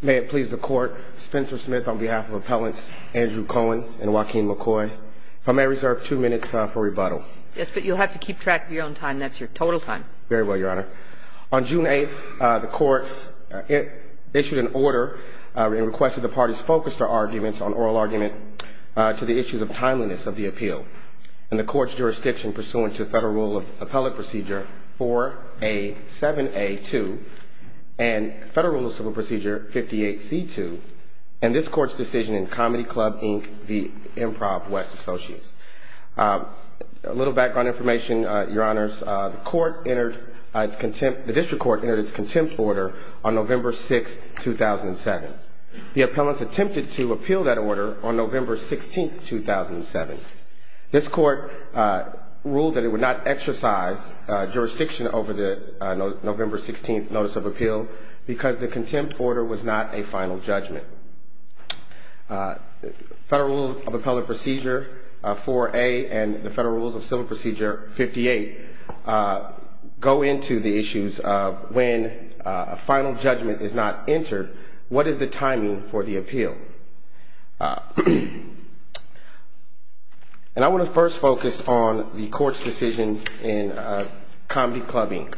May it please the Court, Spencer Smith on behalf of Appellants Andrew Cohen and Joaquin McCoy, if I may reserve two minutes for rebuttal. Yes, but you'll have to keep track of your own time. That's your total time. Very well, Your Honor. On June 8th, the Court issued an order and requested the parties focus their arguments on oral argument to the issues of timeliness of the appeal. And the Court's jurisdiction pursuant to Federal Rule of Appellate Procedure 4A7A2 and Federal Rule of Civil Procedure 58C2 and this Court's decision in Comedy Club, Inc. v. Improv West Associates. A little background information, Your Honors. The District Court entered its contempt order on November 6th, 2007. The appellants attempted to appeal that order on November 16th, 2007. This Court ruled that it would not exercise jurisdiction over the November 16th notice of appeal because the contempt order was not a final judgment. Federal Rule of Appellate Procedure 4A and the Federal Rules of Civil Procedure 58 go into the issues of when a final judgment is not entered. What is the timing for the appeal? And I want to first focus on the Court's decision in Comedy Club, Inc.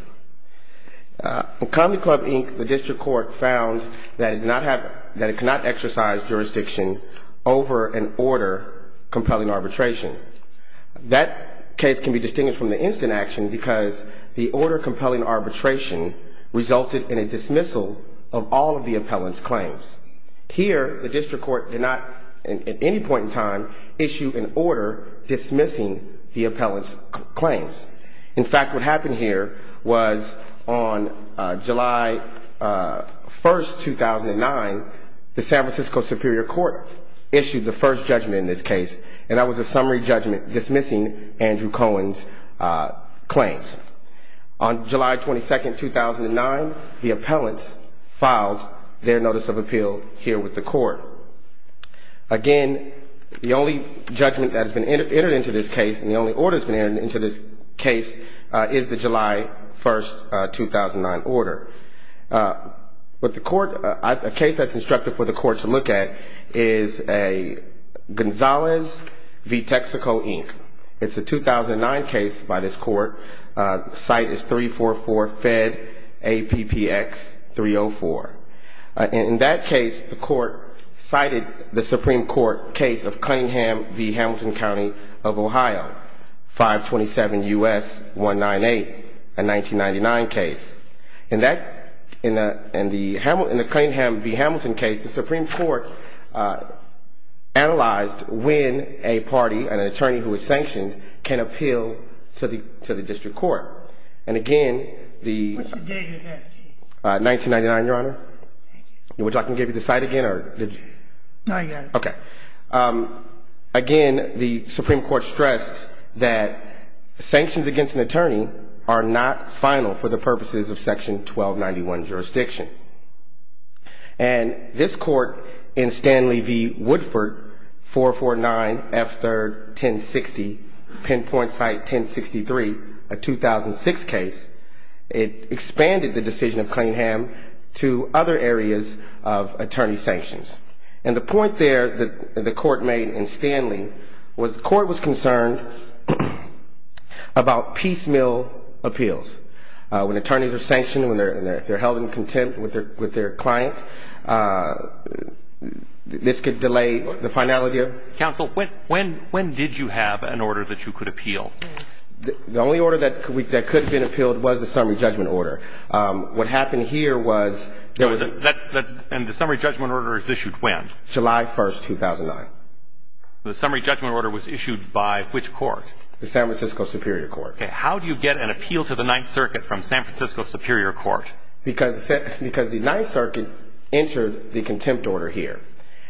In Comedy Club, Inc., the District Court found that it cannot exercise jurisdiction over an order compelling arbitration. That case can be distinguished from the instant action because the order compelling arbitration resulted in a dismissal of all of the appellant's claims. Here, the District Court did not, at any point in time, issue an order dismissing the appellant's claims. In fact, what happened here was on July 1st, 2009, the San Francisco Superior Court issued the first judgment in this case. And that was a summary judgment dismissing Andrew Cohen's claims. On July 22nd, 2009, the appellants filed their notice of appeal here with the Court. Again, the only judgment that has been entered into this case and the only order that has been entered into this case is the July 1st, 2009 order. A case that's instructed for the Court to look at is a Gonzalez v. Texaco, Inc. It's a 2009 case by this Court. The site is 344-FED-APPX-304. In that case, the Court cited the Supreme Court case of Cunningham v. Hamilton County of Ohio, 527 U.S. 198, a 1999 case. In the Cunningham v. Hamilton case, the Supreme Court analyzed when a party, an attorney who is sanctioned, can appeal to the District Court. And again, the... What's the date of that case? 1999, Your Honor. Would you like me to give you the site again? Not yet. Okay. Again, the Supreme Court stressed that sanctions against an attorney are not final for the purposes of Section 1291 jurisdiction. And this Court, in Stanley v. Woodford, 449-F3-1060, pinpoint site 1063, a 2006 case, expanded the decision of Cunningham to other areas of attorney sanctions. And the point there that the Court made in Stanley was the Court was concerned about piecemeal appeals. When attorneys are sanctioned, when they're held in contempt with their clients, this could delay the finality of... Counsel, when did you have an order that you could appeal? The only order that could have been appealed was the summary judgment order. What happened here was... And the summary judgment order is issued when? July 1, 2009. The summary judgment order was issued by which court? The San Francisco Superior Court. Okay. How do you get an appeal to the Ninth Circuit from San Francisco Superior Court? Because the Ninth Circuit entered the contempt order here.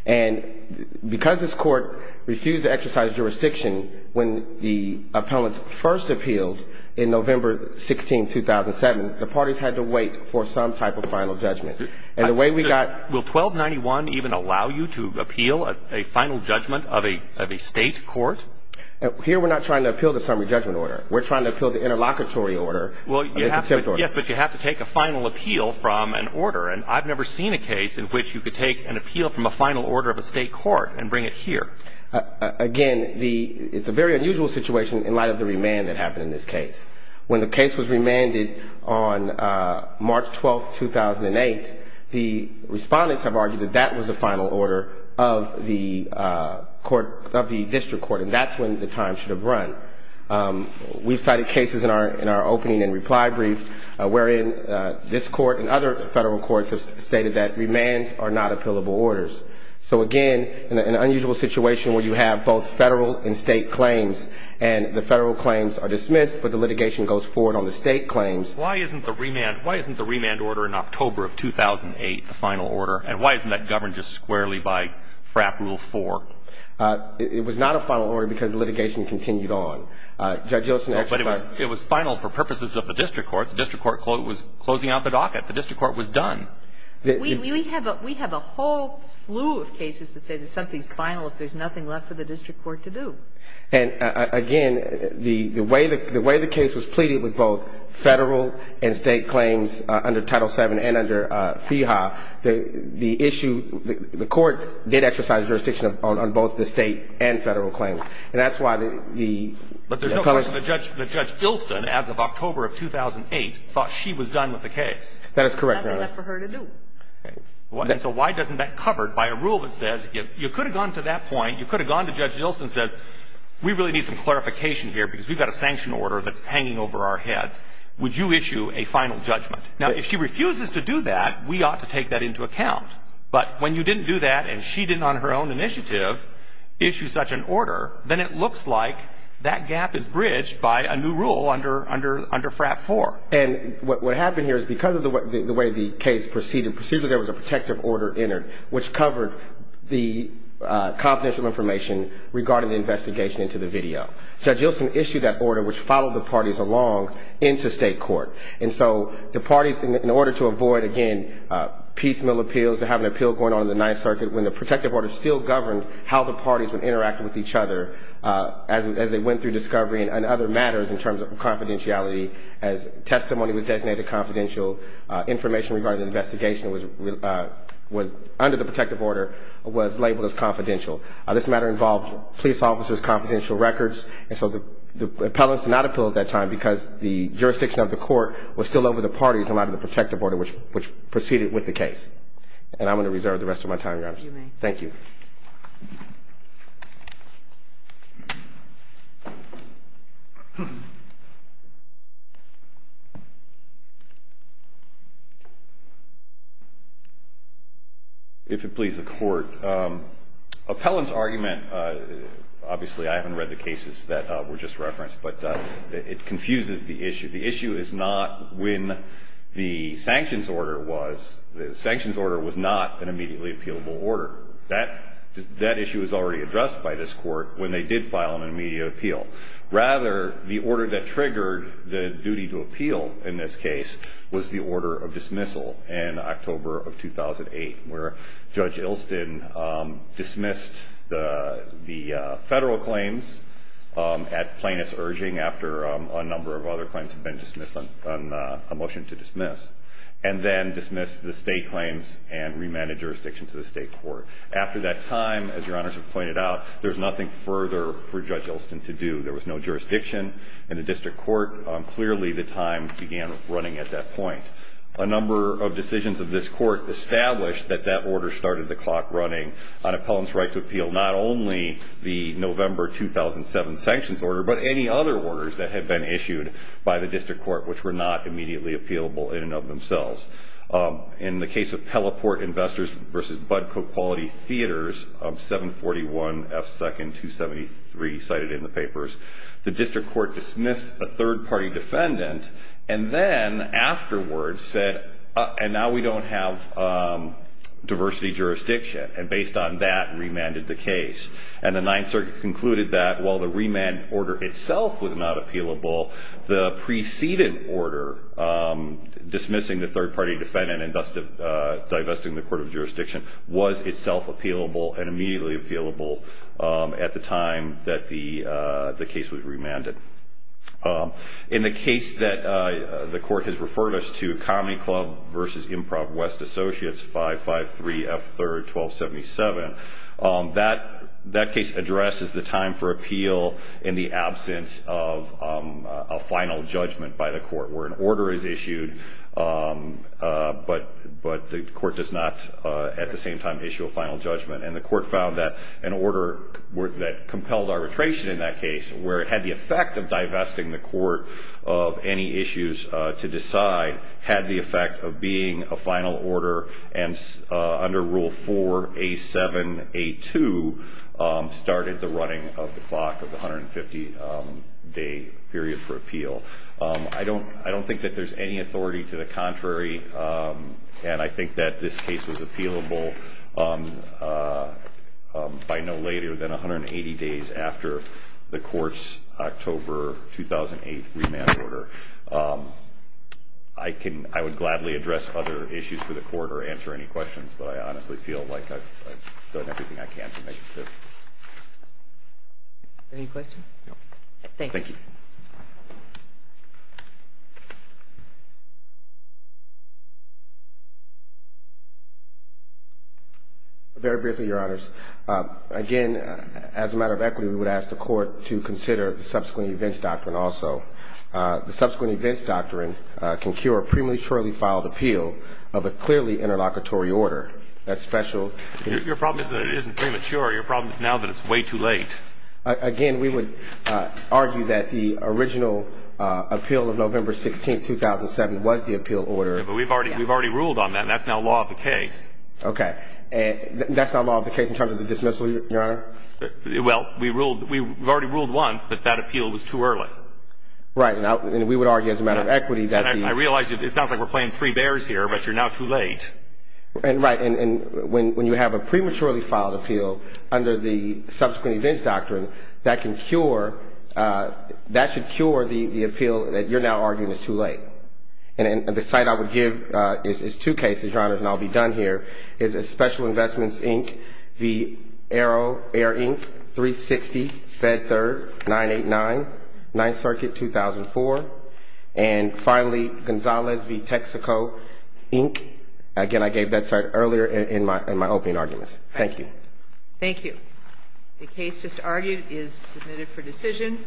And because this Court refused to exercise jurisdiction when the appellants first appealed in November 16, 2007, the parties had to wait for some type of final judgment. And the way we got... Will 1291 even allow you to appeal a final judgment of a state court? Here we're not trying to appeal the summary judgment order. We're trying to appeal the interlocutory order of the contempt order. Yes, but you have to take a final appeal from an order. And I've never seen a case in which you could take an appeal from a final order of a state court and bring it here. Again, it's a very unusual situation in light of the remand that happened in this case. When the case was remanded on March 12, 2008, the respondents have argued that that was the final order of the district court, and that's when the time should have run. We've cited cases in our opening and reply brief wherein this court and other federal courts have stated that remands are not appealable orders. So, again, an unusual situation where you have both federal and state claims, and the federal claims are dismissed, but the litigation goes forward on the state claims. Why isn't the remand order in October of 2008 the final order? And why isn't that governed just squarely by FRAP Rule 4? It was not a final order because the litigation continued on. Judge Olson, I'm sorry. But it was final for purposes of the district court. The district court was closing out the docket. The district court was done. We have a whole slew of cases that say that something's final if there's nothing left for the district court to do. And, again, the way the case was pleaded with both federal and state claims under Title VII and under FEHA, the issue, the court did exercise jurisdiction on both the state and federal claims. And that's why the – But there's no question that Judge Ilsen, as of October of 2008, thought she was done with the case. That is correct, Your Honor. Nothing left for her to do. And so why doesn't that covered by a rule that says you could have gone to that point, you could have gone to Judge Ilsen and said we really need some clarification here because we've got a sanction order that's hanging over our heads. Would you issue a final judgment? Now, if she refuses to do that, we ought to take that into account. But when you didn't do that and she didn't on her own initiative issue such an order, then it looks like that gap is bridged by a new rule under FRAP 4. And what happened here is because of the way the case proceeded, there was a protective order entered which covered the confidential information regarding the investigation into the video. Judge Ilsen issued that order which followed the parties along into state court. And so the parties, in order to avoid, again, piecemeal appeals, to have an appeal going on in the Ninth Circuit when the protective order still governed how the parties would interact with each other as they went through discovery and other matters in terms of confidentiality as testimony was designated confidential, information regarding the investigation under the protective order was labeled as confidential. This matter involved police officers' confidential records. And so the appellants did not appeal at that time because the jurisdiction of the court was still over the parties in light of the protective order which proceeded with the case. And I'm going to reserve the rest of my time, Your Honor. You may. Thank you. If it pleases the Court, appellant's argument, obviously I haven't read the cases that were just referenced, but it confuses the issue. The issue is not when the sanctions order was. The sanctions order was not an immediately appealable order. That issue was already addressed by this Court when they did file an immediate appeal. Rather, the order that triggered the duty to appeal in this case was the order of dismissal in October of 2008, where Judge Ilston dismissed the federal claims at plaintiff's urging after a number of other claims had been dismissed on a motion to dismiss, and then dismissed the state claims and remanded jurisdiction to the state court. After that time, as Your Honors have pointed out, there's nothing further for Judge Ilston to do. There was no jurisdiction in the district court. Clearly, the time began running at that point. A number of decisions of this Court established that that order started the clock running on appellant's right to appeal not only the November 2007 sanctions order, but any other orders that had been issued by the district court which were not immediately appealable in and of themselves. In the case of Pelleport Investors v. Budcock Quality Theaters of 741 F. 2nd 273 cited in the papers, the district court dismissed a third-party defendant and then afterwards said, and now we don't have diversity jurisdiction, and based on that, remanded the case. And the Ninth Circuit concluded that while the remand order itself was not appealable, the preceding order dismissing the third-party defendant and thus divesting the court of jurisdiction was itself appealable and immediately appealable at the time that the case was remanded. In the case that the Court has referred us to, Comedy Club v. Improv West Associates 553 F. 3rd 1277, that case addresses the time for appeal in the absence of a final judgment by the Court where an order is issued, but the Court does not at the same time issue a final judgment. And the Court found that an order that compelled arbitration in that case, where it had the effect of divesting the Court of any issues to decide, had the effect of being a final order, and under Rule 4A. 7A. 2, started the running of the clock of the 150-day period for appeal. I don't think that there's any authority to the contrary, and I think that this case was appealable by no later than 180 days after the Court's October 2008 remand order. I would gladly address other issues for the Court or answer any questions, but I honestly feel like I've done everything I can to make it clear. Any questions? No. Thank you. Thank you. Very briefly, Your Honors. Again, as a matter of equity, we would ask the Court to consider the subsequent events doctrine also. The subsequent events doctrine can cure a prematurely filed appeal of a clearly interlocutory order. That's special. Your problem is that it isn't premature. Your problem is now that it's way too late. Again, we would argue that the original appeal of November 16, 2007, was the appeal order. Yeah, but we've already ruled on that, and that's now law of the case. Okay. That's not law of the case in terms of the dismissal, Your Honor? Well, we've already ruled once that that appeal was too early. Right. And we would argue as a matter of equity that the – I realize it sounds like we're playing three bears here, but you're now too late. Right. And when you have a prematurely filed appeal under the subsequent events doctrine, that can cure – that should cure the appeal that you're now arguing is too late. And the cite I would give is two cases, Your Honors, and I'll be done here. It's Special Investments, Inc., v. Arrow Air, Inc., 360, Fed Third, 989, 9th Circuit, 2004. And finally, Gonzalez v. Texaco, Inc. Again, I gave that cite earlier in my opening arguments. Thank you. Thank you. The case just argued is submitted for decision.